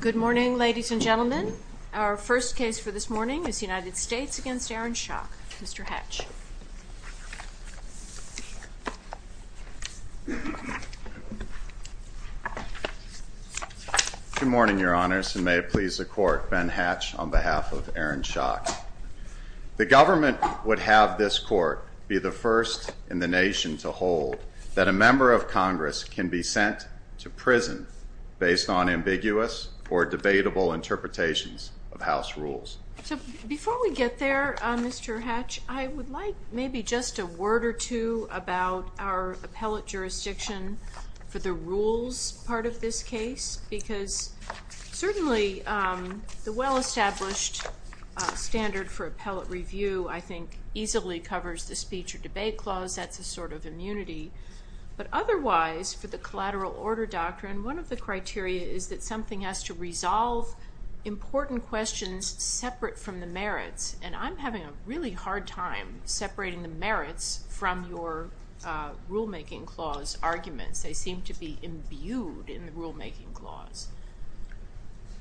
Good morning, ladies and gentlemen. Our first case for this morning is the United States v. Aaron Schock. Mr. Hatch. Good morning, Your Honors, and may it please the Court, Ben Hatch on behalf of Aaron Schock. The government would have this Court be the first in the nation to hold that a member of Congress can be sent to prison based on ambiguous or debatable interpretations of House rules. So before we get there, Mr. Hatch, I would like maybe just a word or two about our appellate jurisdiction for the rules part of this case, because certainly the well-established standard for appellate review, I think, easily covers the speech or debate clause. That's a sort of immunity. But otherwise, for the collateral order doctrine, one of the criteria is that something has to resolve important questions separate from the merits. And I'm having a really hard time separating the merits from your rulemaking clause arguments. They seem to be imbued in the rulemaking clause.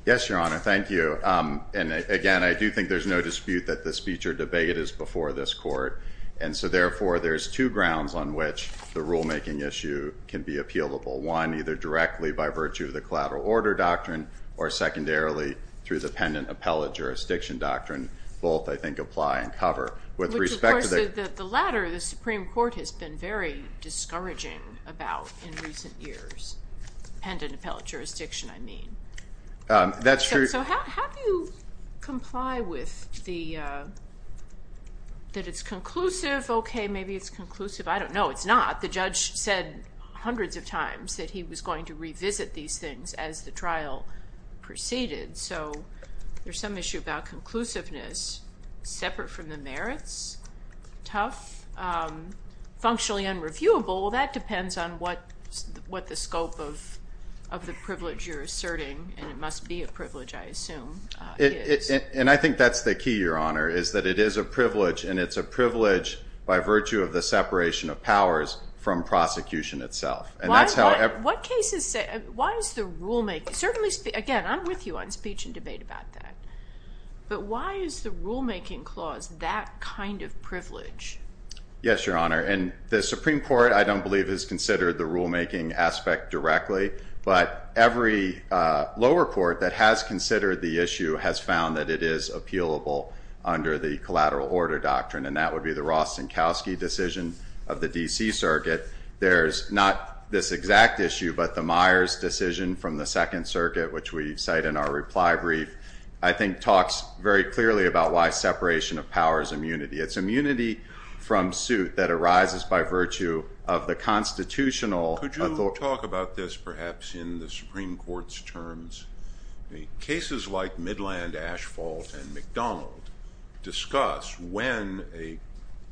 Yes, Your Honor. Thank you. And again, I do think there's no dispute that the speech or debate is before this Court. And so therefore, there's two grounds on which the rulemaking issue can be appealable. One, either directly by virtue of the collateral order doctrine, or secondarily, through the pendant appellate jurisdiction doctrine, both, I think, apply and cover. Which, of course, the latter, the Supreme Court has been very discouraging about in recent years. Pendant appellate jurisdiction, I mean. So how do you comply with the, that it's conclusive? Okay, maybe it's conclusive. I don't know. It's not. The judge said hundreds of times that he was going to revisit these things as the trial proceeded. So there's some issue about conclusiveness separate from the merits. Tough. Functionally unreviewable. Well, that depends on what the scope of the privilege you're asserting, and it must be a privilege, I assume, is. And I think that's the key, Your Honor, is that it is a privilege, and it's a privilege by virtue of the separation of powers from prosecution itself. Why is the rulemaking, certainly, again, I'm with you on speech and debate about that, but why is the rulemaking clause that kind of privilege? Yes, Your Honor, and the Supreme Court, I don't believe, has considered the rulemaking aspect directly, but every lower court that has considered the issue has found that it is appealable under the collateral order doctrine, and that would be the Ross-Senkowski decision of the D.C. Circuit. There's not this exact issue, but the Myers decision from the Second Circuit, which we cite in our reply brief, I think talks very clearly about why separation of power is immunity. It's immunity from suit that arises by virtue of the constitutional authority. Could you talk about this, perhaps, in the Supreme Court's terms? Cases like Midland Asphalt and McDonald discuss when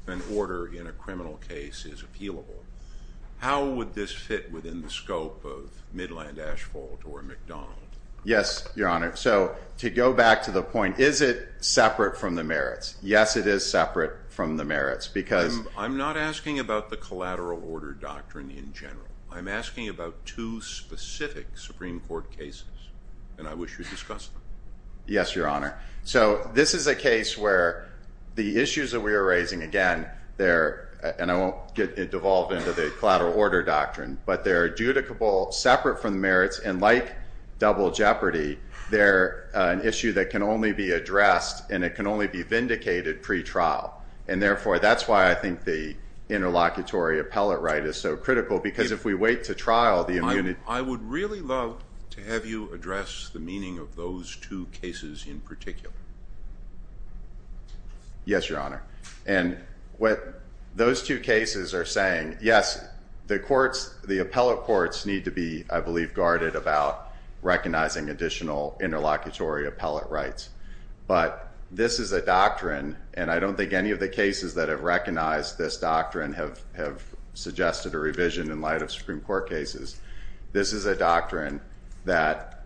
an order in a criminal case is appealable. How would this fit within the scope of Midland Asphalt or McDonald? Yes, Your Honor. So to go back to the point, is it separate from the merits? Yes, it is separate from the merits because- I'm not asking about the collateral order doctrine in general. I'm asking about two specific Supreme Court cases, and I wish you'd discuss them. Yes, Your Honor. So this is a case where the issues that we are raising, again, they're, and I won't get devolved into the collateral order doctrine, but they're adjudicable separate from the merits, and like double jeopardy, they're an issue that can only be addressed, and it can only be vindicated pre-trial, and therefore, that's why I think the interlocutory appellate right is so critical because if we wait to trial the immunity- I would really love to have you address the meaning of those two cases in particular. Yes, Your Honor. And what those two cases are saying, yes, the courts, the appellate courts need to be, I believe, guarded about recognizing additional interlocutory appellate rights, but this is a doctrine, and I don't think any of the cases that have recognized this doctrine have suggested a revision in light of Supreme Court cases. This is a doctrine that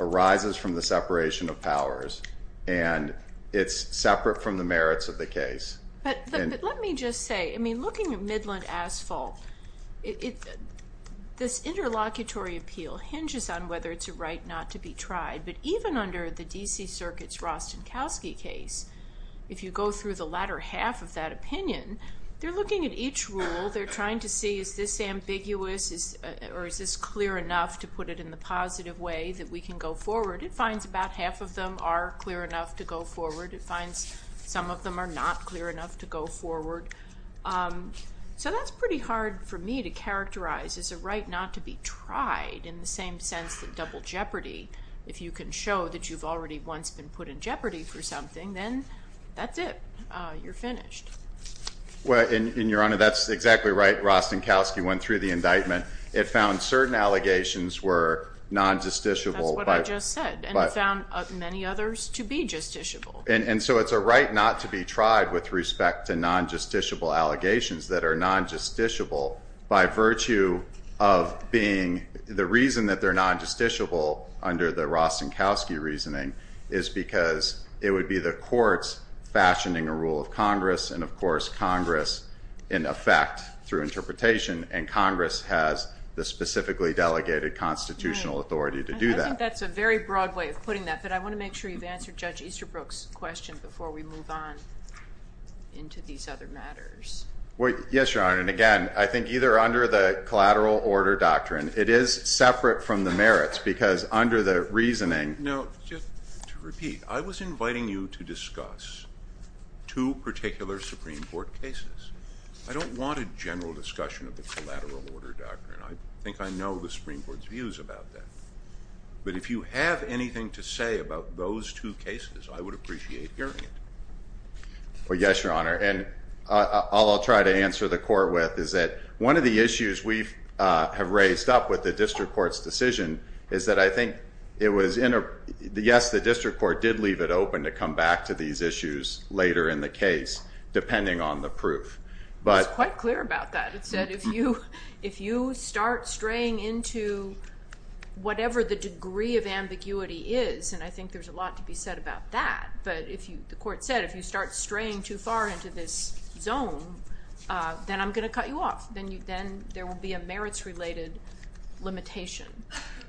arises from the separation of powers, and it's separate from the merits of the case. But let me just say, I mean, looking at Midland Asphalt, this interlocutory appeal hinges on whether it's a right not to be tried, but even under the D.C. Circuit's Rostenkowski case, if you go through the latter half of that opinion, they're looking at each rule. They're trying to see is this ambiguous or is this clear enough to put it in the positive way that we can go forward. It finds about half of them are clear enough to go forward. It finds some of them are not clear enough to go forward. So that's pretty hard for me to characterize as a right not to be tried in the same sense that double jeopardy. If you can show that you've already once been put in jeopardy for something, then that's it. You're finished. Well, and, Your Honor, that's exactly right. Rostenkowski went through the indictment. It found certain allegations were non-justiciable. That's what I just said, and it found many others to be justiciable. And so it's a right not to be tried with respect to non-justiciable allegations that are non-justiciable by virtue of being The reason that they're non-justiciable under the Rostenkowski reasoning is because it would be the courts fashioning a rule of Congress, and, of course, Congress in effect through interpretation, and Congress has the specifically delegated constitutional authority to do that. I think that's a very broad way of putting that, but I want to make sure you've answered Judge Easterbrook's question before we move on into these other matters. Yes, Your Honor, and, again, I think either under the collateral order doctrine, it is separate from the merits because under the reasoning. Now, just to repeat, I was inviting you to discuss two particular Supreme Court cases. I don't want a general discussion of the collateral order doctrine. I think I know the Supreme Court's views about that, but if you have anything to say about those two cases, I would appreciate hearing it. Well, yes, Your Honor, and all I'll try to answer the court with is that one of the issues we have raised up with the district court's decision is that I think it was in a Yes, the district court did leave it open to come back to these issues later in the case, depending on the proof, but It was quite clear about that. It said if you start straying into whatever the degree of ambiguity is, and I think there's a lot to be said about that, but the court said if you start straying too far into this zone, then I'm going to cut you off. Then there will be a merits-related limitation.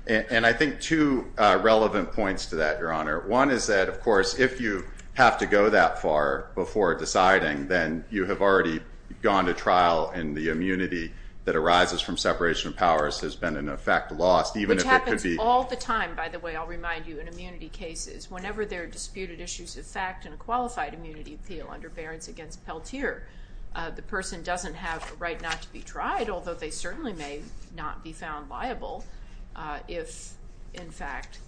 And I think two relevant points to that, Your Honor. One is that, of course, if you have to go that far before deciding, then you have already gone to trial, and the immunity that arises from separation of powers has been, in effect, lost, even if it could be All the time, by the way, I'll remind you, in immunity cases, whenever there are disputed issues of fact in a qualified immunity appeal under Barron's against Peltier, the person doesn't have the right not to be tried, although they certainly may not be found liable if, in fact,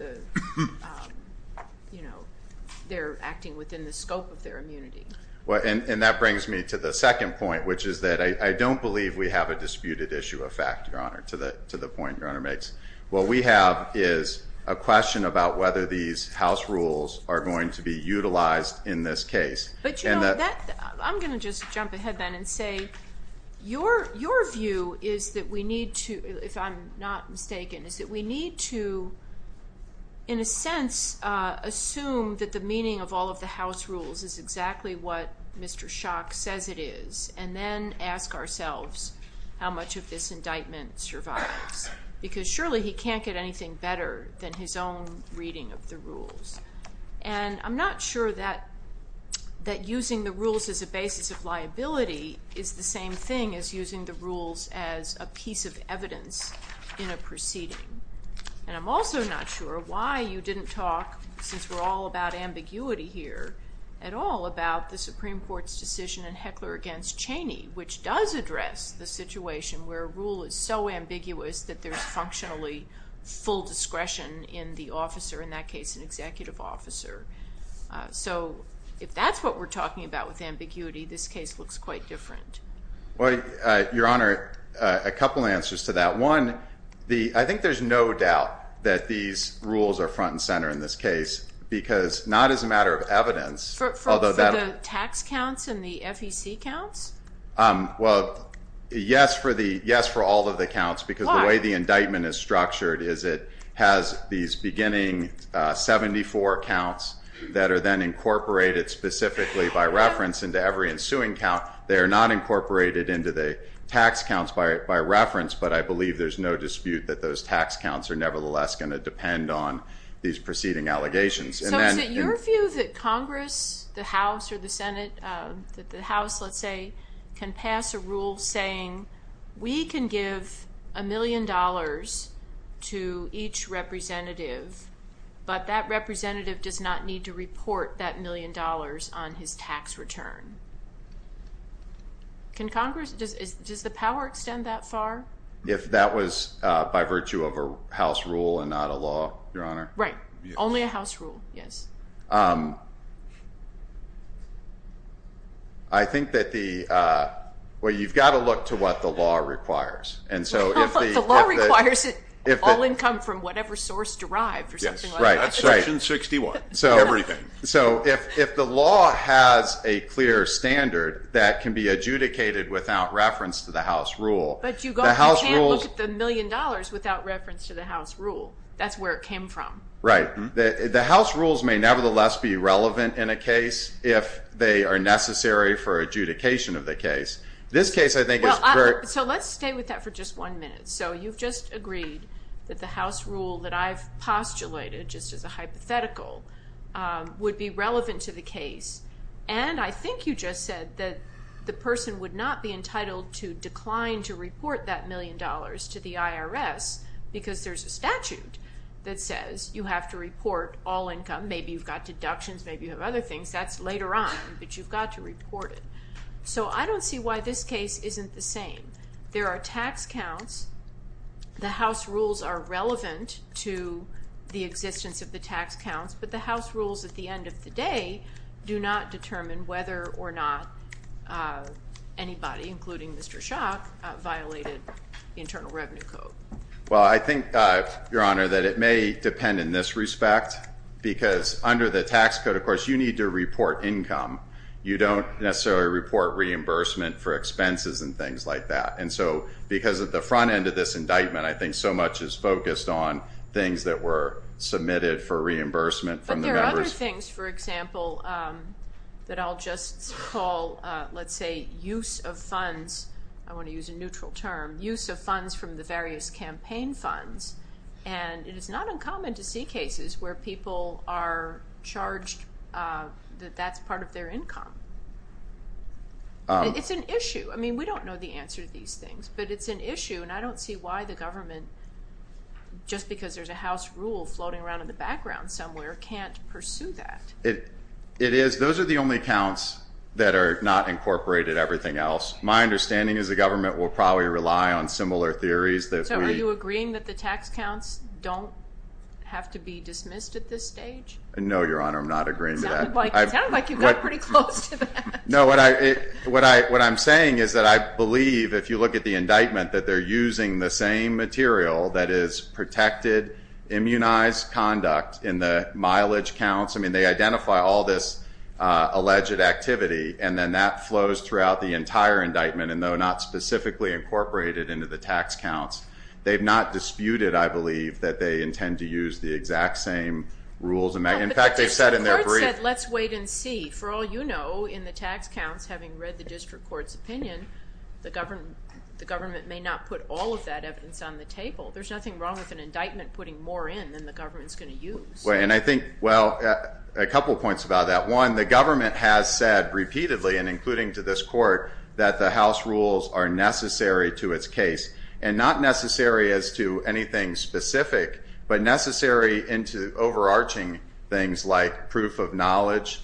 they're acting within the scope of their immunity. And that brings me to the second point, which is that I don't believe we have a disputed issue of fact, Your Honor, to the point Your Honor makes. What we have is a question about whether these house rules are going to be utilized in this case. But, you know, I'm going to just jump ahead, then, and say your view is that we need to, if I'm not mistaken, is that we need to, in a sense, assume that the meaning of all of the house rules is exactly what Mr. Schock says it is, and then ask ourselves how much of this indictment survives. Because surely he can't get anything better than his own reading of the rules. And I'm not sure that using the rules as a basis of liability is the same thing as using the rules as a piece of evidence in a proceeding. And I'm also not sure why you didn't talk, since we're all about ambiguity here, at all about the Supreme Court's decision in Heckler v. Cheney, which does address the situation where a rule is so ambiguous that there's functionally full discretion in the officer, in that case an executive officer. So if that's what we're talking about with ambiguity, this case looks quite different. Well, Your Honor, a couple answers to that. One, I think there's no doubt that these rules are front and center in this case, because not as a matter of evidence. For the tax counts and the FEC counts? Well, yes, for all of the counts. Why? Because the way the indictment is structured is it has these beginning 74 counts that are then incorporated specifically by reference into every ensuing count. They are not incorporated into the tax counts by reference, but I believe there's no dispute that those tax counts are nevertheless going to depend on these preceding allegations. So is it your view that Congress, the House, or the Senate, the House, let's say, can pass a rule saying we can give a million dollars to each representative, but that representative does not need to report that million dollars on his tax return? Does the power extend that far? If that was by virtue of a House rule and not a law, Your Honor? Right, only a House rule, yes. I think that the – well, you've got to look to what the law requires. Well, the law requires it, all income from whatever source derived or something like that. That's Section 61, everything. So if the law has a clear standard that can be adjudicated without reference to the House rule – But you can't look at the million dollars without reference to the House rule. That's where it came from. Right. The House rules may nevertheless be relevant in a case if they are necessary for adjudication of the case. This case I think is – So let's stay with that for just one minute. So you've just agreed that the House rule that I've postulated just as a hypothetical would be relevant to the case, and I think you just said that the person would not be entitled to decline to report that million dollars to the IRS because there's a statute that says you have to report all income. Maybe you've got deductions. Maybe you have other things. That's later on, but you've got to report it. So I don't see why this case isn't the same. There are tax counts. The House rules are relevant to the existence of the tax counts, but the House rules at the end of the day do not determine whether or not anybody, including Mr. Schock, violated the Internal Revenue Code. Well, I think, Your Honor, that it may depend in this respect because under the tax code, of course, you need to report income. You don't necessarily report reimbursement for expenses and things like that. And so because of the front end of this indictment, I think so much is focused on things that were submitted for reimbursement from the members. But there are other things, for example, that I'll just call, let's say, use of funds. I want to use a neutral term. Use of funds from the various campaign funds, and it is not uncommon to see cases where people are charged that that's part of their income. It's an issue. I mean, we don't know the answer to these things, but it's an issue, and I don't see why the government, just because there's a House rule floating around in the background somewhere, can't pursue that. It is. Those are the only counts that are not incorporated, everything else. My understanding is the government will probably rely on similar theories. So are you agreeing that the tax counts don't have to be dismissed at this stage? No, Your Honor, I'm not agreeing to that. It sounded like you got pretty close to that. No, what I'm saying is that I believe, if you look at the indictment, that they're using the same material that is protected, immunized conduct in the mileage counts. I mean, they identify all this alleged activity, and then that flows throughout the entire indictment, and though not specifically incorporated into the tax counts, they've not disputed, I believe, that they intend to use the exact same rules. In fact, they've said in their brief. The court said, let's wait and see. For all you know, in the tax counts, having read the district court's opinion, the government may not put all of that evidence on the table. There's nothing wrong with an indictment putting more in than the government's going to use. And I think, well, a couple of points about that. One, the government has said repeatedly, and including to this court, that the House rules are necessary to its case, and not necessary as to anything specific, but necessary into overarching things like proof of knowledge,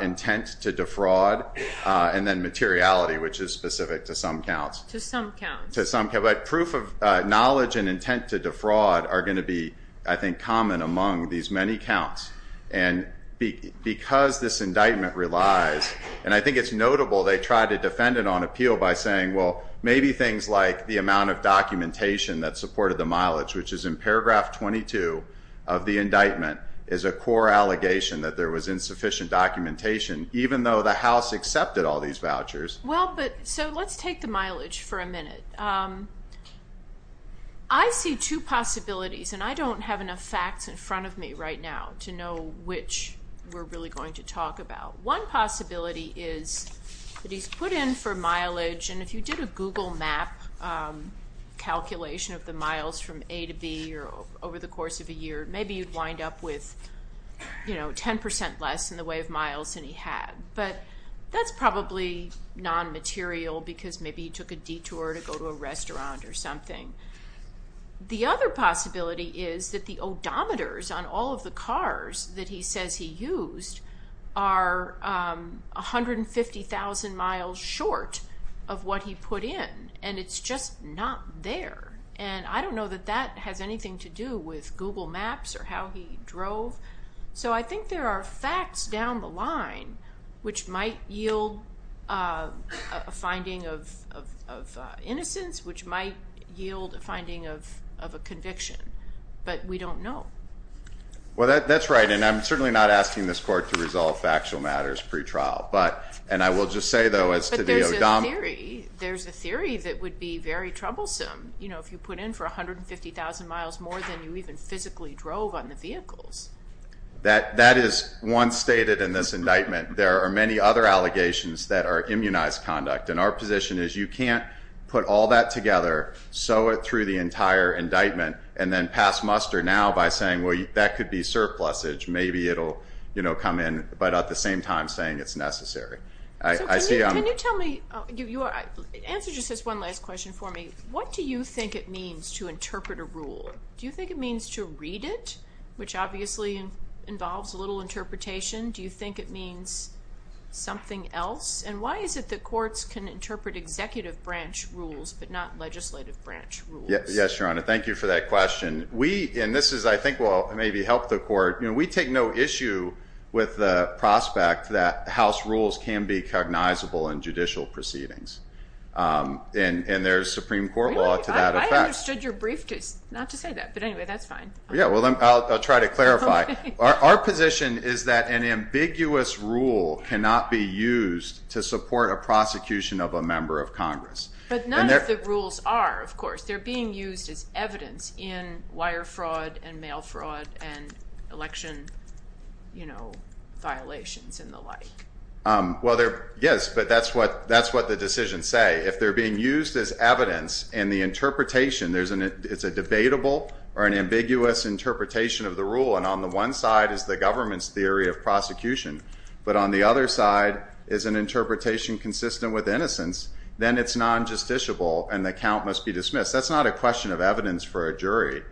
intent to defraud, and then materiality, which is specific to some counts. To some counts. To some counts. But proof of knowledge and intent to defraud are going to be, I think, common among these many counts. And because this indictment relies, and I think it's notable they tried to defend it on appeal by saying, well, maybe things like the amount of documentation that supported the mileage, which is in paragraph 22 of the indictment, is a core allegation that there was insufficient documentation, even though the House accepted all these vouchers. Well, but, so let's take the mileage for a minute. I see two possibilities, and I don't have enough facts in front of me right now to know which we're really going to talk about. One possibility is that he's put in for mileage, and if you did a Google map calculation of the miles from A to B over the course of a year, maybe you'd wind up with, you know, 10% less in the way of miles than he had. But that's probably non-material because maybe he took a detour to go to a restaurant or something. The other possibility is that the odometers on all of the cars that he says he used are 150,000 miles short of what he put in, and it's just not there. And I don't know that that has anything to do with Google Maps or how he drove. So I think there are facts down the line which might yield a finding of innocence, which might yield a finding of a conviction, but we don't know. Well, that's right, and I'm certainly not asking this court to resolve factual matters pre-trial, and I will just say, though, as to the odometer. But there's a theory that would be very troublesome, you know, if you put in for 150,000 miles more than you even physically drove on the vehicles. That is once stated in this indictment. There are many other allegations that are immunized conduct, and our position is you can't put all that together, sew it through the entire indictment, and then pass muster now by saying, well, that could be surplusage. Maybe it'll, you know, come in, but at the same time saying it's necessary. Can you tell me, answer just this one last question for me. What do you think it means to interpret a rule? Do you think it means to read it, which obviously involves a little interpretation? Do you think it means something else? And why is it that courts can interpret executive branch rules but not legislative branch rules? Yes, Your Honor, thank you for that question. We, and this is, I think, will maybe help the court. You know, we take no issue with the prospect that House rules can be cognizable in judicial proceedings, and there's Supreme Court law to that effect. I understood your briefcase, not to say that, but anyway, that's fine. Yeah, well, I'll try to clarify. Our position is that an ambiguous rule cannot be used to support a prosecution of a member of Congress. But none of the rules are, of course. They're being used as evidence in wire fraud and mail fraud and election, you know, violations and the like. Well, yes, but that's what the decisions say. If they're being used as evidence and the interpretation, it's a debatable or an ambiguous interpretation of the rule, and on the one side is the government's theory of prosecution, then it's non-justiciable and the count must be dismissed. That's not a question of evidence for a jury.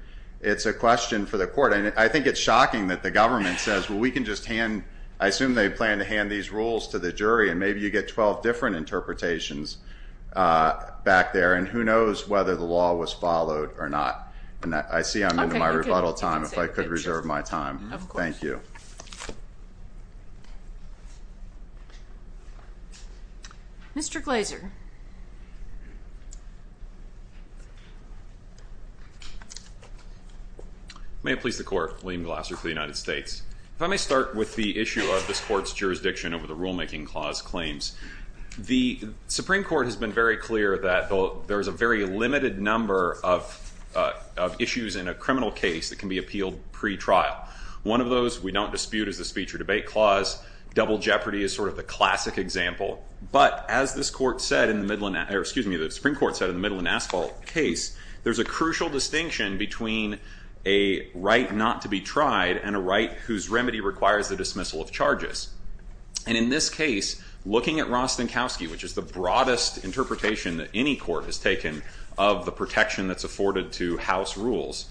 It's a question for the court, and I think it's shocking that the government says, well, we can just hand, I assume they plan to hand these rules to the jury, and maybe you get 12 different interpretations back there. And who knows whether the law was followed or not. And I see I'm into my rebuttal time, if I could reserve my time. Of course. Thank you. Thank you. Mr. Glaser. May it please the Court. William Glaser for the United States. If I may start with the issue of this Court's jurisdiction over the Rulemaking Clause claims. The Supreme Court has been very clear that there is a very limited number of issues in a criminal case that can be appealed pretrial. One of those we don't dispute is the Speech or Debate Clause. Double jeopardy is sort of the classic example. But as the Supreme Court said in the Midland Asphalt case, there's a crucial distinction between a right not to be tried and a right whose remedy requires the dismissal of charges. And in this case, looking at Rostenkowski, which is the broadest interpretation that any court has taken of the protection that's afforded to House rules,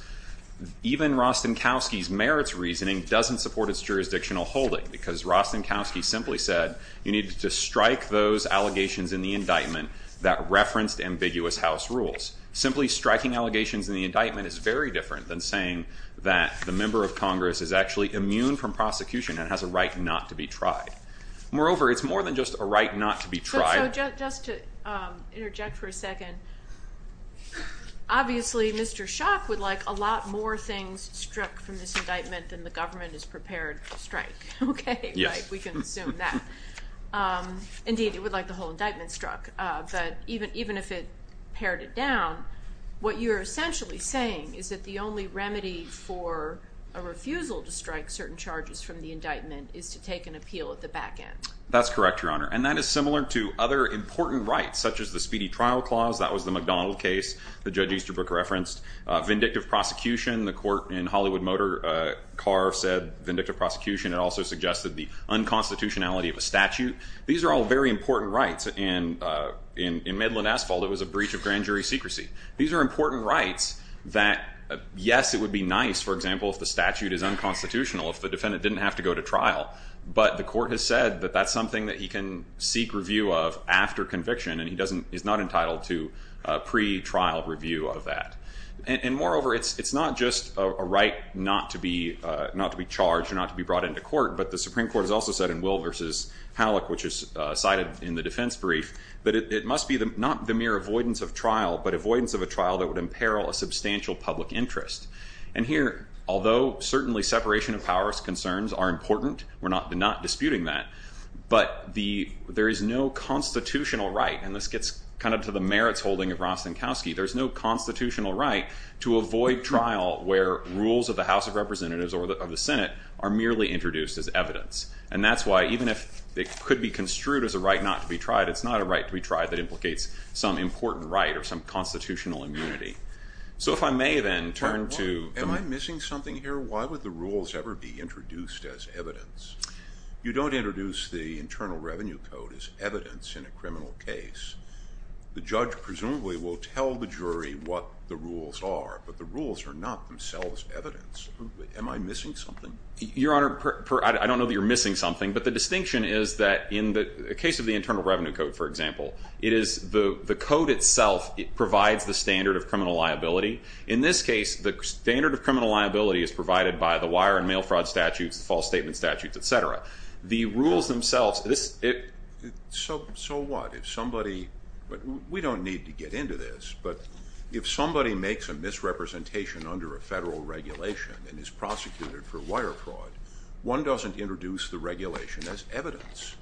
even Rostenkowski's merits reasoning doesn't support its jurisdictional holding because Rostenkowski simply said you need to strike those allegations in the indictment that referenced ambiguous House rules. Simply striking allegations in the indictment is very different than saying that the member of Congress is actually immune from prosecution and has a right not to be tried. Moreover, it's more than just a right not to be tried. So just to interject for a second. Obviously, Mr. Schock would like a lot more things struck from this indictment than the government is prepared to strike. OK, we can assume that. Indeed, it would like the whole indictment struck. But even if it pared it down, what you're essentially saying is that the only remedy for a refusal to strike certain charges from the indictment is to take an appeal at the back end. That's correct, Your Honor. And that is similar to other important rights, such as the Speedy Trial Clause. That was the McDonald case the judge Easterbrook referenced. Vindictive prosecution, the court in Hollywood Motor Car said vindictive prosecution. It also suggested the unconstitutionality of a statute. These are all very important rights. In Midland Asphalt, it was a breach of grand jury secrecy. These are important rights that, yes, it would be nice, for example, if the statute is unconstitutional, if the defendant didn't have to go to trial. But the court has said that that's something that he can seek review of after conviction, and he's not entitled to pre-trial review of that. And moreover, it's not just a right not to be charged or not to be brought into court, but the Supreme Court has also said in Will v. Halleck, which is cited in the defense brief, that it must be not the mere avoidance of trial, but avoidance of a trial that would imperil a substantial public interest. And here, although certainly separation of powers concerns are important, we're not disputing that, but there is no constitutional right, and this gets kind of to the merits holding of Rostenkowski, there's no constitutional right to avoid trial where rules of the House of Representatives or the Senate are merely introduced as evidence. And that's why, even if it could be construed as a right not to be tried, it's not a right to be tried that implicates some important right or some constitutional immunity. So if I may then turn to... Am I missing something here? Why would the rules ever be introduced as evidence? You don't introduce the Internal Revenue Code as evidence in a criminal case. The judge presumably will tell the jury what the rules are, but the rules are not themselves evidence. Am I missing something? Your Honor, I don't know that you're missing something, but the distinction is that in the case of the Internal Revenue Code, for example, the code itself provides the standard of criminal liability. In this case, the standard of criminal liability is provided by the wire and mail fraud statutes, the false statement statutes, etc. The rules themselves... So what? If somebody... We don't need to get into this, but if somebody makes a misrepresentation under a federal regulation and is prosecuted for wire fraud, one doesn't introduce the regulation as evidence.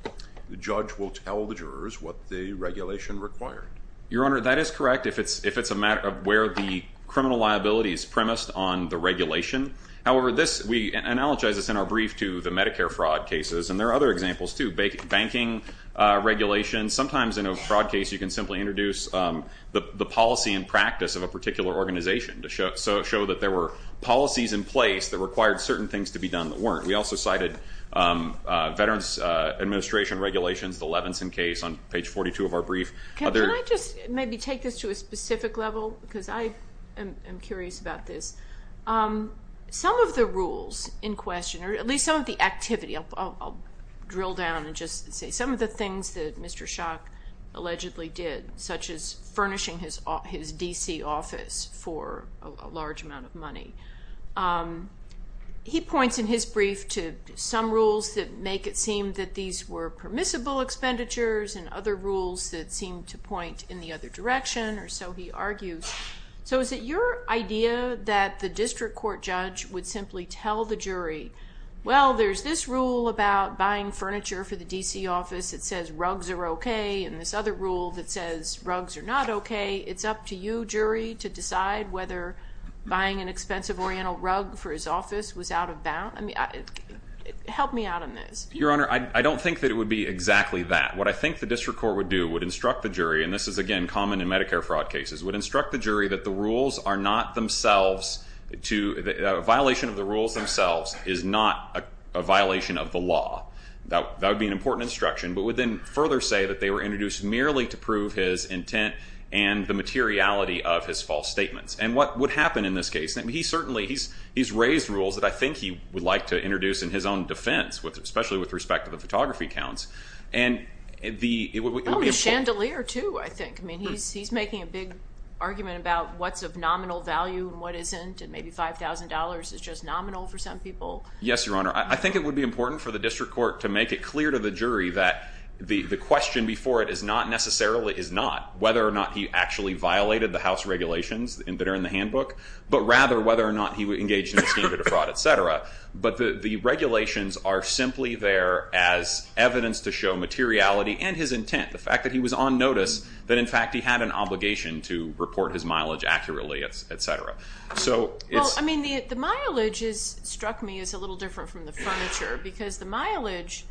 The judge will tell the jurors what the regulation required. Your Honor, that is correct if it's a matter of where the criminal liability is premised on the regulation. However, we analogize this in our brief to the Medicare fraud cases, and there are other examples too. Banking regulations, sometimes in a fraud case you can simply introduce the policy and practice of a particular organization to show that there were policies in place that required certain things to be done that weren't. We also cited Veterans Administration Regulations, the Levinson case, on page 42 of our brief. Can I just maybe take this to a specific level because I am curious about this? Some of the rules in question, or at least some of the activity, I'll drill down and just say some of the things that Mr. Schock allegedly did, such as furnishing his D.C. office for a large amount of money. He points in his brief to some rules that make it seem that these were permissible expenditures and other rules that seem to point in the other direction, or so he argues. So is it your idea that the district court judge would simply tell the jury, well, there's this rule about buying furniture for the D.C. office that says rugs are okay and this other rule that says rugs are not okay. It's up to you, jury, to decide whether buying an expensive Oriental rug for his office was out of bounds? Help me out on this. Your Honor, I don't think that it would be exactly that. What I think the district court would do would instruct the jury, and this is, again, common in Medicare fraud cases, would instruct the jury that the rules are not themselves, a violation of the rules themselves is not a violation of the law. That would be an important instruction, but would then further say that they were introduced merely to prove his intent and the materiality of his false statements. And what would happen in this case? He's raised rules that I think he would like to introduce in his own defense, especially with respect to the photography counts. Oh, the chandelier, too, I think. He's making a big argument about what's of nominal value and what isn't, and maybe $5,000 is just nominal for some people. Yes, Your Honor. The question before it is not necessarily is not whether or not he actually violated the house regulations that are in the handbook, but rather whether or not he engaged in the scheme of fraud, et cetera. But the regulations are simply there as evidence to show materiality and his intent, the fact that he was on notice that, in fact, he had an obligation to report his mileage accurately, et cetera. Well, I mean, the mileage struck me as a little different from the furniture because the mileage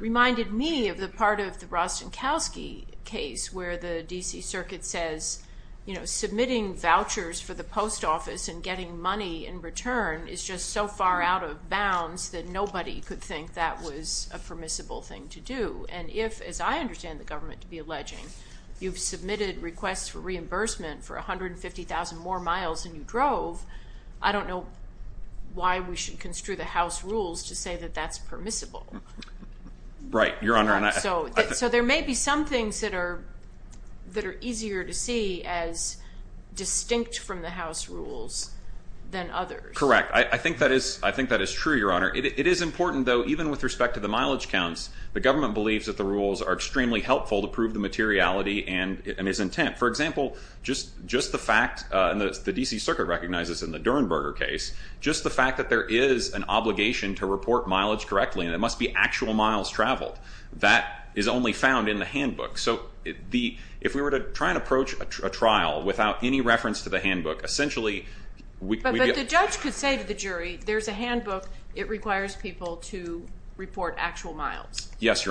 reminded me of the part of the Rostenkowski case where the D.C. Circuit says, you know, submitting vouchers for the post office and getting money in return is just so far out of bounds that nobody could think that was a permissible thing to do. And if, as I understand the government to be alleging, you've submitted requests for reimbursement for 150,000 more miles than you drove, I don't know why we should construe the house rules to say that that's permissible. Right, Your Honor. So there may be some things that are easier to see as distinct from the house rules than others. Correct. I think that is true, Your Honor. It is important, though, even with respect to the mileage counts, the government believes that the rules are extremely helpful to prove the materiality and its intent. For example, just the fact, and the D.C. Circuit recognizes in the Durenberger case, just the fact that there is an obligation to report mileage correctly and it must be actual miles traveled, that is only found in the handbook. So if we were to try and approach a trial without any reference to the handbook, essentially we'd be- Yes, Your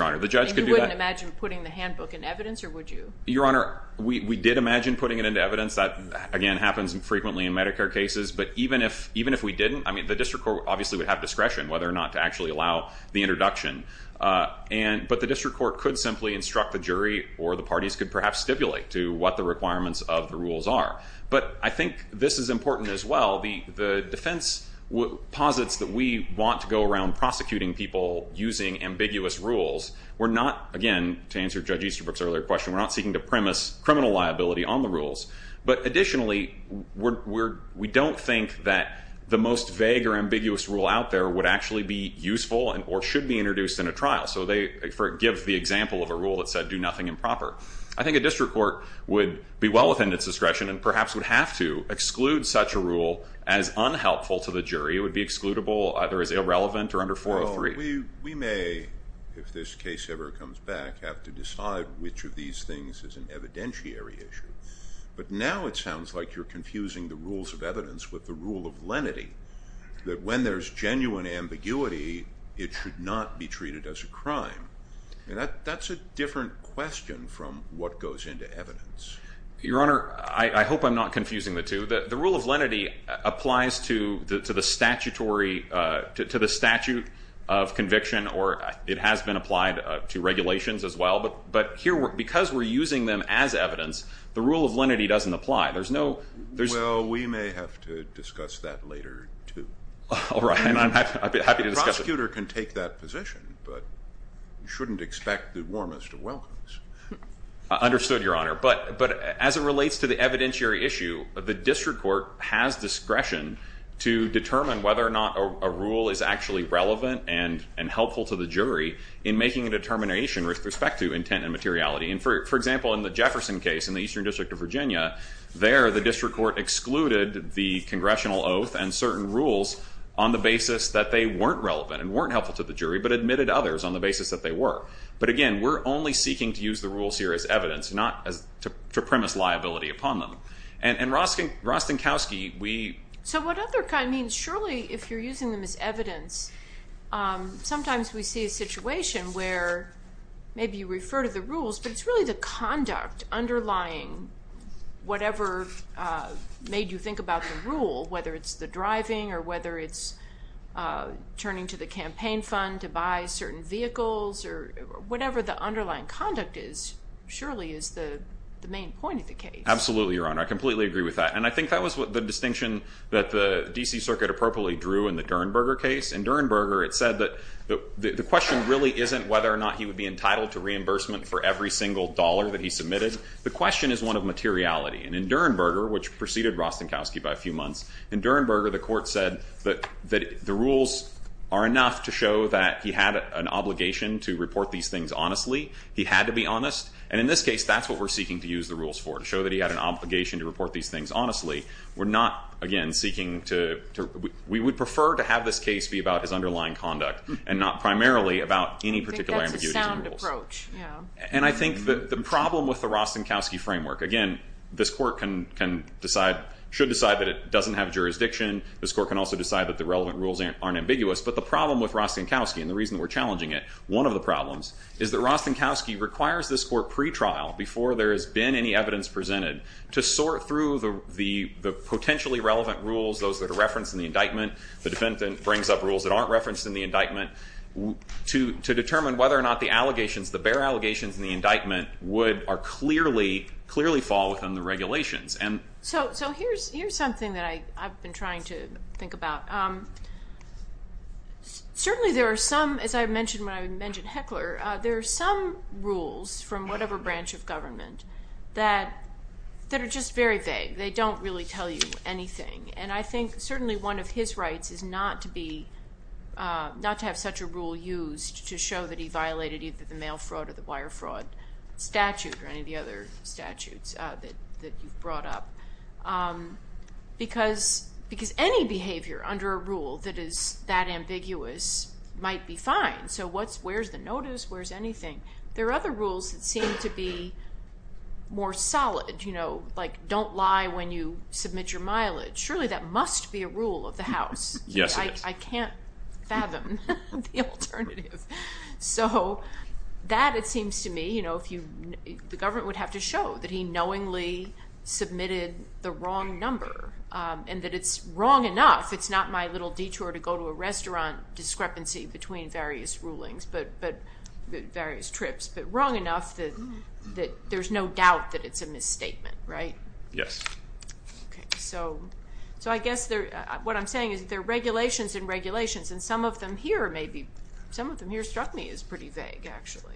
Honor. The judge could do that. You wouldn't imagine putting the handbook in evidence, or would you? Your Honor, we did imagine putting it in evidence. That, again, happens frequently in Medicare cases. But even if we didn't, the district court obviously would have discretion whether or not to actually allow the introduction. But the district court could simply instruct the jury, or the parties could perhaps stipulate to what the requirements of the rules are. But I think this is important as well. The defense posits that we want to go around prosecuting people using ambiguous rules. We're not, again, to answer Judge Easterbrook's earlier question, we're not seeking to premise criminal liability on the rules. But additionally, we don't think that the most vague or ambiguous rule out there would actually be useful or should be introduced in a trial. So they give the example of a rule that said do nothing improper. I think a district court would be well within its discretion and perhaps would have to exclude such a rule as unhelpful to the jury. It would be excludable either as irrelevant or under 403. We may, if this case ever comes back, have to decide which of these things is an evidentiary issue. But now it sounds like you're confusing the rules of evidence with the rule of lenity, that when there's genuine ambiguity, it should not be treated as a crime. That's a different question from what goes into evidence. Your Honor, I hope I'm not confusing the two. The rule of lenity applies to the statute of conviction, or it has been applied to regulations as well. But because we're using them as evidence, the rule of lenity doesn't apply. Well, we may have to discuss that later, too. All right, I'd be happy to discuss it. A prosecutor can take that position, but you shouldn't expect the warmest of welcomes. I understood, Your Honor, but as it relates to the evidentiary issue, the district court has discretion to determine whether or not a rule is actually relevant and helpful to the jury in making a determination with respect to intent and materiality. And, for example, in the Jefferson case in the Eastern District of Virginia, there the district court excluded the congressional oath and certain rules on the basis that they weren't relevant and weren't helpful to the jury, but admitted others on the basis that they were. But, again, we're only seeking to use the rules here as evidence, not to premise liability upon them. And, Rostenkowski, we – So what other – I mean, surely if you're using them as evidence, sometimes we see a situation where maybe you refer to the rules, but it's really the conduct underlying whatever made you think about the rule, whether it's the driving or whether it's turning to the campaign fund to buy certain vehicles or whatever the underlying conduct is surely is the main point of the case. Absolutely, Your Honor. I completely agree with that. And I think that was the distinction that the D.C. Circuit appropriately drew in the Durenberger case. In Durenberger, it said that the question really isn't whether or not he would be entitled to reimbursement for every single dollar that he submitted. The question is one of materiality. And in Durenberger, which preceded Rostenkowski by a few months, in Durenberger, the court said that the rules are enough to show that he had an obligation to report these things honestly. He had to be honest. And in this case, that's what we're seeking to use the rules for, to show that he had an obligation to report these things honestly. We're not, again, seeking to – we would prefer to have this case be about his underlying conduct and not primarily about any particular ambiguities in the rules. I think that's a sound approach, yeah. And I think that the problem with the Rostenkowski framework – it should decide that it doesn't have jurisdiction. This court can also decide that the relevant rules aren't ambiguous. But the problem with Rostenkowski and the reason we're challenging it, one of the problems is that Rostenkowski requires this court pre-trial, before there has been any evidence presented, to sort through the potentially relevant rules, those that are referenced in the indictment. The defendant brings up rules that aren't referenced in the indictment to determine whether or not the allegations, the bare allegations in the indictment, would clearly fall within the regulations. So here's something that I've been trying to think about. Certainly there are some, as I mentioned when I mentioned Heckler, there are some rules from whatever branch of government that are just very vague. They don't really tell you anything. And I think certainly one of his rights is not to have such a rule used to show that he violated either the mail fraud or the wire fraud statute or any of the other statutes that you've brought up. Because any behavior under a rule that is that ambiguous might be fine. So where's the notice? Where's anything? There are other rules that seem to be more solid, like don't lie when you submit your mileage. Surely that must be a rule of the House. Yes, it is. I can't fathom the alternative. So that, it seems to me, the government would have to show that he knowingly submitted the wrong number and that it's wrong enough, it's not my little detour to go to a restaurant, discrepancy between various rulings, various trips, but wrong enough that there's no doubt that it's a misstatement, right? Yes. Okay. So I guess what I'm saying is there are regulations and regulations, and some of them here maybe, some of them here struck me as pretty vague, actually.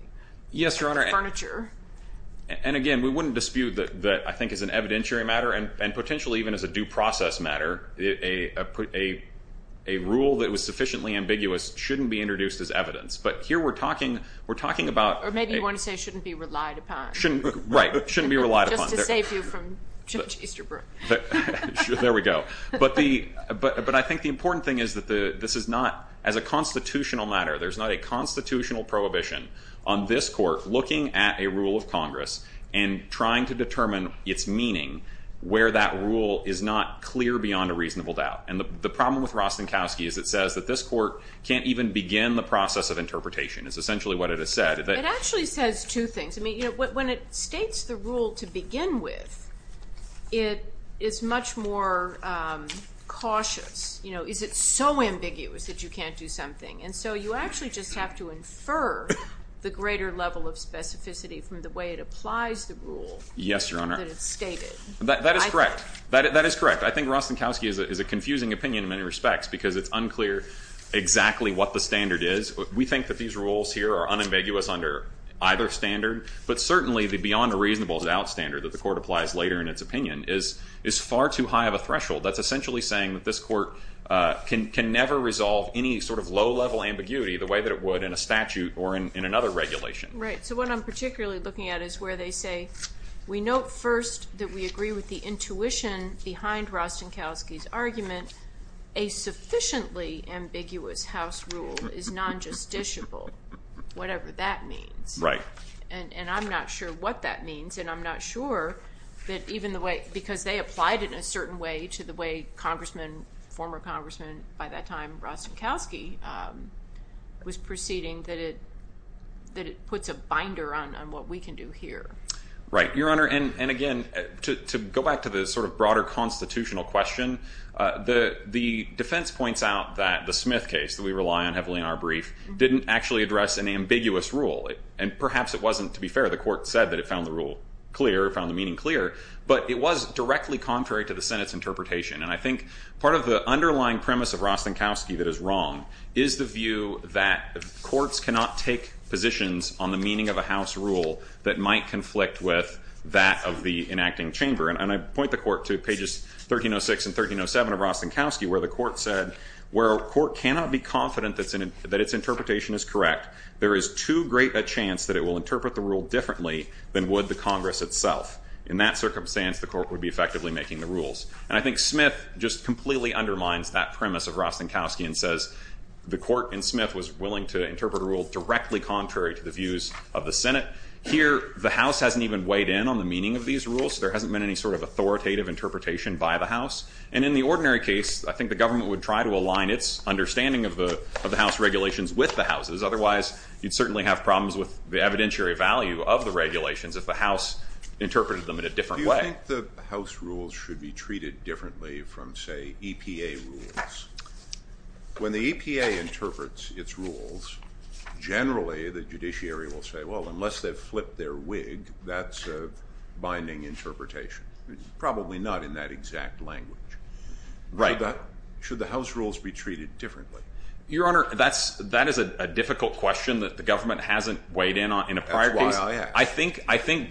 Yes, Your Honor. Furniture. And again, we wouldn't dispute that I think as an evidentiary matter and potentially even as a due process matter, a rule that was sufficiently ambiguous shouldn't be introduced as evidence. But here we're talking about— Or maybe you want to say shouldn't be relied upon. Right, shouldn't be relied upon. Just to save you from Judge Easterbrook. There we go. But I think the important thing is that this is not, as a constitutional matter, there's not a constitutional prohibition on this court looking at a rule of Congress and trying to determine its meaning where that rule is not clear beyond a reasonable doubt. And the problem with Rostenkowski is it says that this court can't even begin the process of interpretation. It's essentially what it has said. It actually says two things. I mean, when it states the rule to begin with, it is much more cautious. Is it so ambiguous that you can't do something? And so you actually just have to infer the greater level of specificity from the way it applies the rule. Yes, Your Honor. That it's stated. That is correct. That is correct. I think Rostenkowski is a confusing opinion in many respects because it's unclear exactly what the standard is. We think that these rules here are unambiguous under either standard, but certainly the beyond a reasonable doubt standard that the court applies later in its opinion is far too high of a threshold. That's essentially saying that this court can never resolve any sort of low-level ambiguity the way that it would in a statute or in another regulation. Right. So what I'm particularly looking at is where they say, we note first that we agree with the intuition behind Rostenkowski's argument. A sufficiently ambiguous House rule is non-justiciable, whatever that means. Right. And I'm not sure what that means, and I'm not sure that even the way because they applied it in a certain way to the way congressmen, former congressmen by that time, Rostenkowski, was proceeding, that it puts a binder on what we can do here. Right, Your Honor. And, again, to go back to the sort of broader constitutional question, the defense points out that the Smith case that we rely on heavily in our brief didn't actually address an ambiguous rule, and perhaps it wasn't, to be fair. The court said that it found the rule clear, found the meaning clear, but it was directly contrary to the Senate's interpretation, and I think part of the underlying premise of Rostenkowski that is wrong is the view that courts cannot take positions on the meaning of a House rule that might conflict with that of the enacting chamber. And I point the court to pages 1306 and 1307 of Rostenkowski where the court said where a court cannot be confident that its interpretation is correct, there is too great a chance that it will interpret the rule differently than would the Congress itself. In that circumstance, the court would be effectively making the rules. And I think Smith just completely undermines that premise of Rostenkowski and says the court in Smith was willing to interpret a rule directly contrary to the views of the Senate. Here the House hasn't even weighed in on the meaning of these rules. There hasn't been any sort of authoritative interpretation by the House. And in the ordinary case, I think the government would try to align its understanding of the House regulations with the House's. Otherwise, you'd certainly have problems with the evidentiary value of the regulations if the House interpreted them in a different way. Do you think the House rules should be treated differently from, say, EPA rules? When the EPA interprets its rules, generally the judiciary will say, well, unless they've flipped their wig, that's a binding interpretation. Probably not in that exact language. Should the House rules be treated differently? Your Honor, that is a difficult question that the government hasn't weighed in on in a prior case. That's why I asked. I think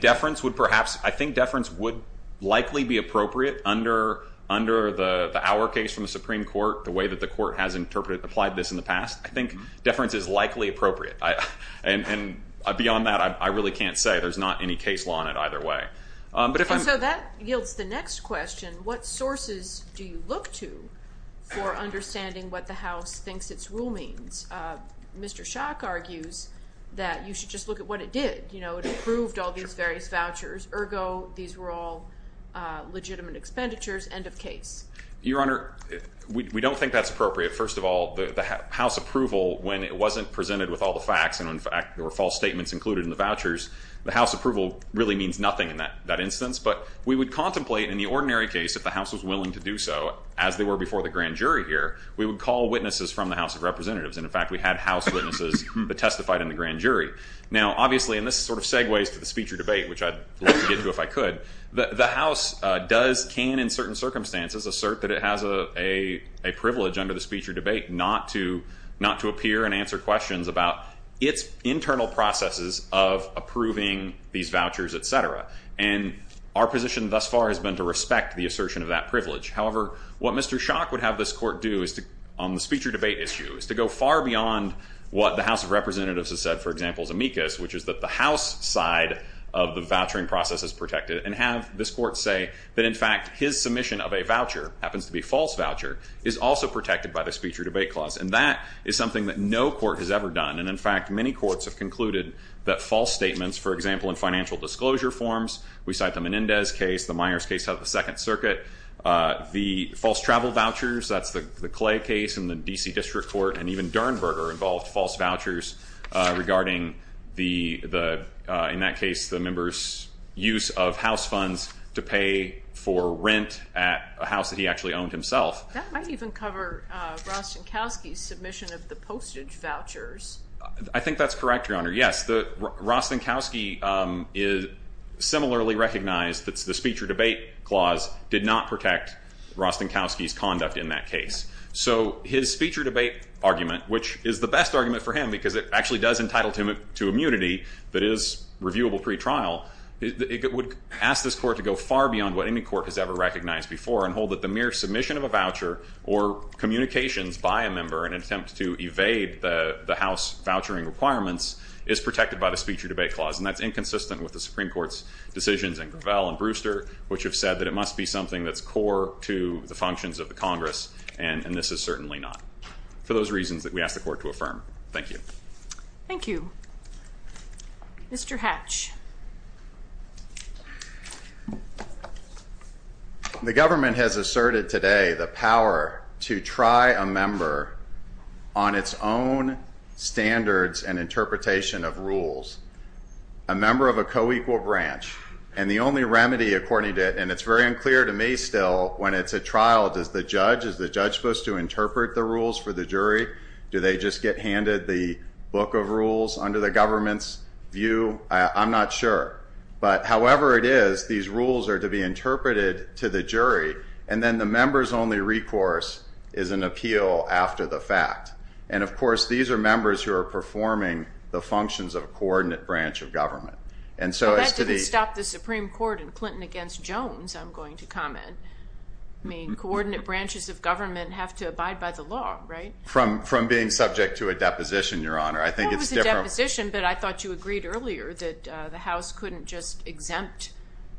deference would likely be appropriate under the Auer case from the Supreme Court, the way that the court has applied this in the past. I think deference is likely appropriate. And beyond that, I really can't say. There's not any case law in it either way. So that yields the next question. What sources do you look to for understanding what the House thinks its rule means? Mr. Schock argues that you should just look at what it did. It approved all these various vouchers. Ergo, these were all legitimate expenditures, end of case. Your Honor, we don't think that's appropriate. First of all, the House approval, when it wasn't presented with all the facts and, in fact, there were false statements included in the vouchers, the House approval really means nothing in that instance. But we would contemplate in the ordinary case, if the House was willing to do so, as they were before the grand jury here, we would call witnesses from the House of Representatives. And, in fact, we had House witnesses that testified in the grand jury. Now, obviously, and this sort of segues to the speech or debate, which I'd like to get to if I could, the House can, in certain circumstances, assert that it has a privilege under the speech or debate not to appear and answer questions about its internal processes of approving these vouchers, et cetera. And our position thus far has been to respect the assertion of that privilege. However, what Mr. Schock would have this Court do on the speech or debate issue is to go far beyond what the House of Representatives has said, for example, is amicus, which is that the House side of the vouchering process is protected and have this Court say that, in fact, his submission of a voucher, happens to be a false voucher, is also protected by the speech or debate clause. And that is something that no court has ever done. And, in fact, many courts have concluded that false statements, for example, in financial disclosure forms, we cite the Menendez case, the Myers case out of the Second Circuit, the false travel vouchers, that's the Clay case in the D.C. District Court, and even Dernberger involved false vouchers regarding, in that case, the member's use of house funds to pay for rent at a house that he actually owned himself. That might even cover Rostenkowski's submission of the postage vouchers. I think that's correct, Your Honor, yes. Rostenkowski is similarly recognized that the speech or debate clause did not protect Rostenkowski's conduct in that case. So his speech or debate argument, which is the best argument for him because it actually does entitle him to immunity that is reviewable pretrial, it would ask this court to go far beyond what any court has ever recognized before and hold that the mere submission of a voucher or communications by a member in an attempt to evade the House vouchering requirements is protected by the speech or debate clause. And that's inconsistent with the Supreme Court's decisions in Gravel and Brewster, which have said that it must be something that's core to the functions of the Congress, and this is certainly not, for those reasons that we ask the court to affirm. Thank you. Thank you. Mr. Hatch. The government has asserted today the power to try a member on its own standards and interpretation of rules. A member of a co-equal branch, and the only remedy according to it, and it's very unclear to me still when it's a trial, do they just get handed the book of rules under the government's view? I'm not sure. But however it is, these rules are to be interpreted to the jury, and then the member's only recourse is an appeal after the fact. And, of course, these are members who are performing the functions of a coordinate branch of government. Well, that didn't stop the Supreme Court in Clinton against Jones, I'm going to comment. I mean, coordinate branches of government have to abide by the law, right? From being subject to a deposition, Your Honor, I think it's different. It was a deposition, but I thought you agreed earlier that the House couldn't just exempt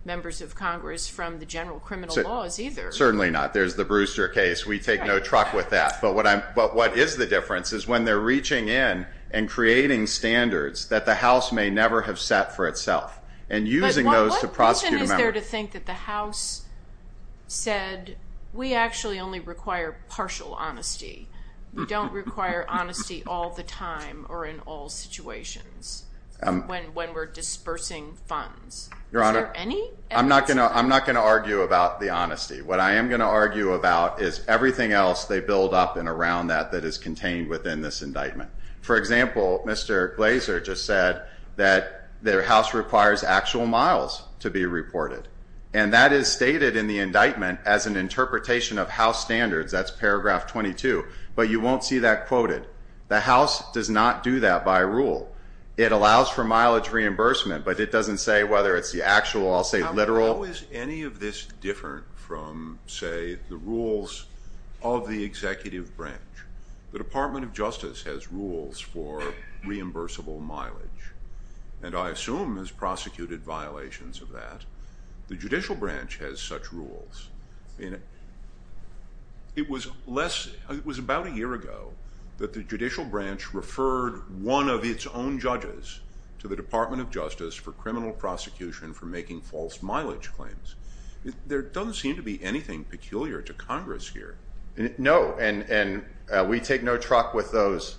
members of Congress from the general criminal laws either. Certainly not. There's the Brewster case. We take no truck with that. But what is the difference is when they're reaching in and creating standards that the House may never have set for itself and using those to prosecute a member. But what reason is there to think that the House said we actually only require partial honesty. We don't require honesty all the time or in all situations when we're dispersing funds. Your Honor, I'm not going to argue about the honesty. What I am going to argue about is everything else they build up and around that that is contained within this indictment. For example, Mr. Glazer just said that the House requires actual miles to be reported, and that is stated in the indictment as an interpretation of House standards. That's paragraph 22, but you won't see that quoted. The House does not do that by rule. It allows for mileage reimbursement, but it doesn't say whether it's the actual, I'll say literal. How is any of this different from, say, the rules of the executive branch? The Department of Justice has rules for reimbursable mileage, and I assume has prosecuted violations of that. The judicial branch has such rules. It was about a year ago that the judicial branch referred one of its own judges to the Department of Justice for criminal prosecution for making false mileage claims. There doesn't seem to be anything peculiar to Congress here. No, and we take no truck with those,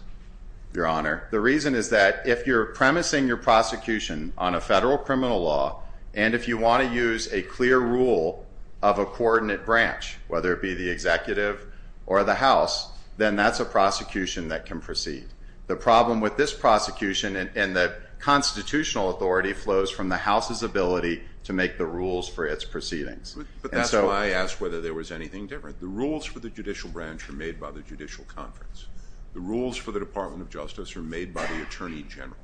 Your Honor. The reason is that if you're premising your prosecution on a federal criminal law and if you want to use a clear rule of a coordinate branch, whether it be the executive or the House, then that's a prosecution that can proceed. The problem with this prosecution and the constitutional authority flows from the House's ability to make the rules for its proceedings. But that's why I asked whether there was anything different. The rules for the judicial branch are made by the judicial conference. The rules for the Department of Justice are made by the attorney general.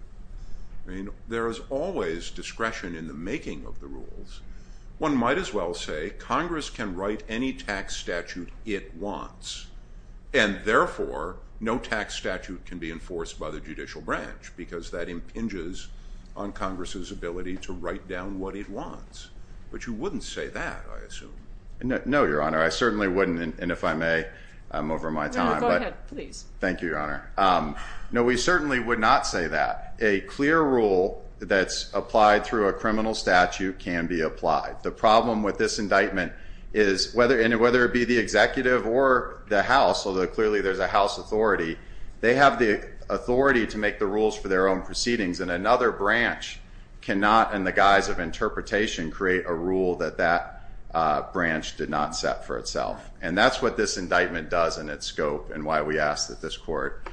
There is always discretion in the making of the rules. One might as well say Congress can write any tax statute it wants, and therefore no tax statute can be enforced by the judicial branch because that impinges on Congress's ability to write down what it wants. But you wouldn't say that, I assume. No, Your Honor, I certainly wouldn't, and if I may, I'm over my time. Go ahead, please. Thank you, Your Honor. No, we certainly would not say that. A clear rule that's applied through a criminal statute can be applied. The problem with this indictment is whether it be the executive or the House, although clearly there's a House authority, they have the authority to make the rules for their own proceedings, and another branch cannot, in the guise of interpretation, create a rule that that branch did not set for itself. And that's what this indictment does in its scope and why we ask that this court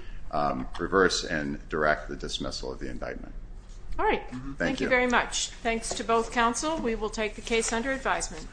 reverse and direct the dismissal of the indictment. All right. Thank you. Thank you very much. Thanks to both counsel. We will take the case under advisement.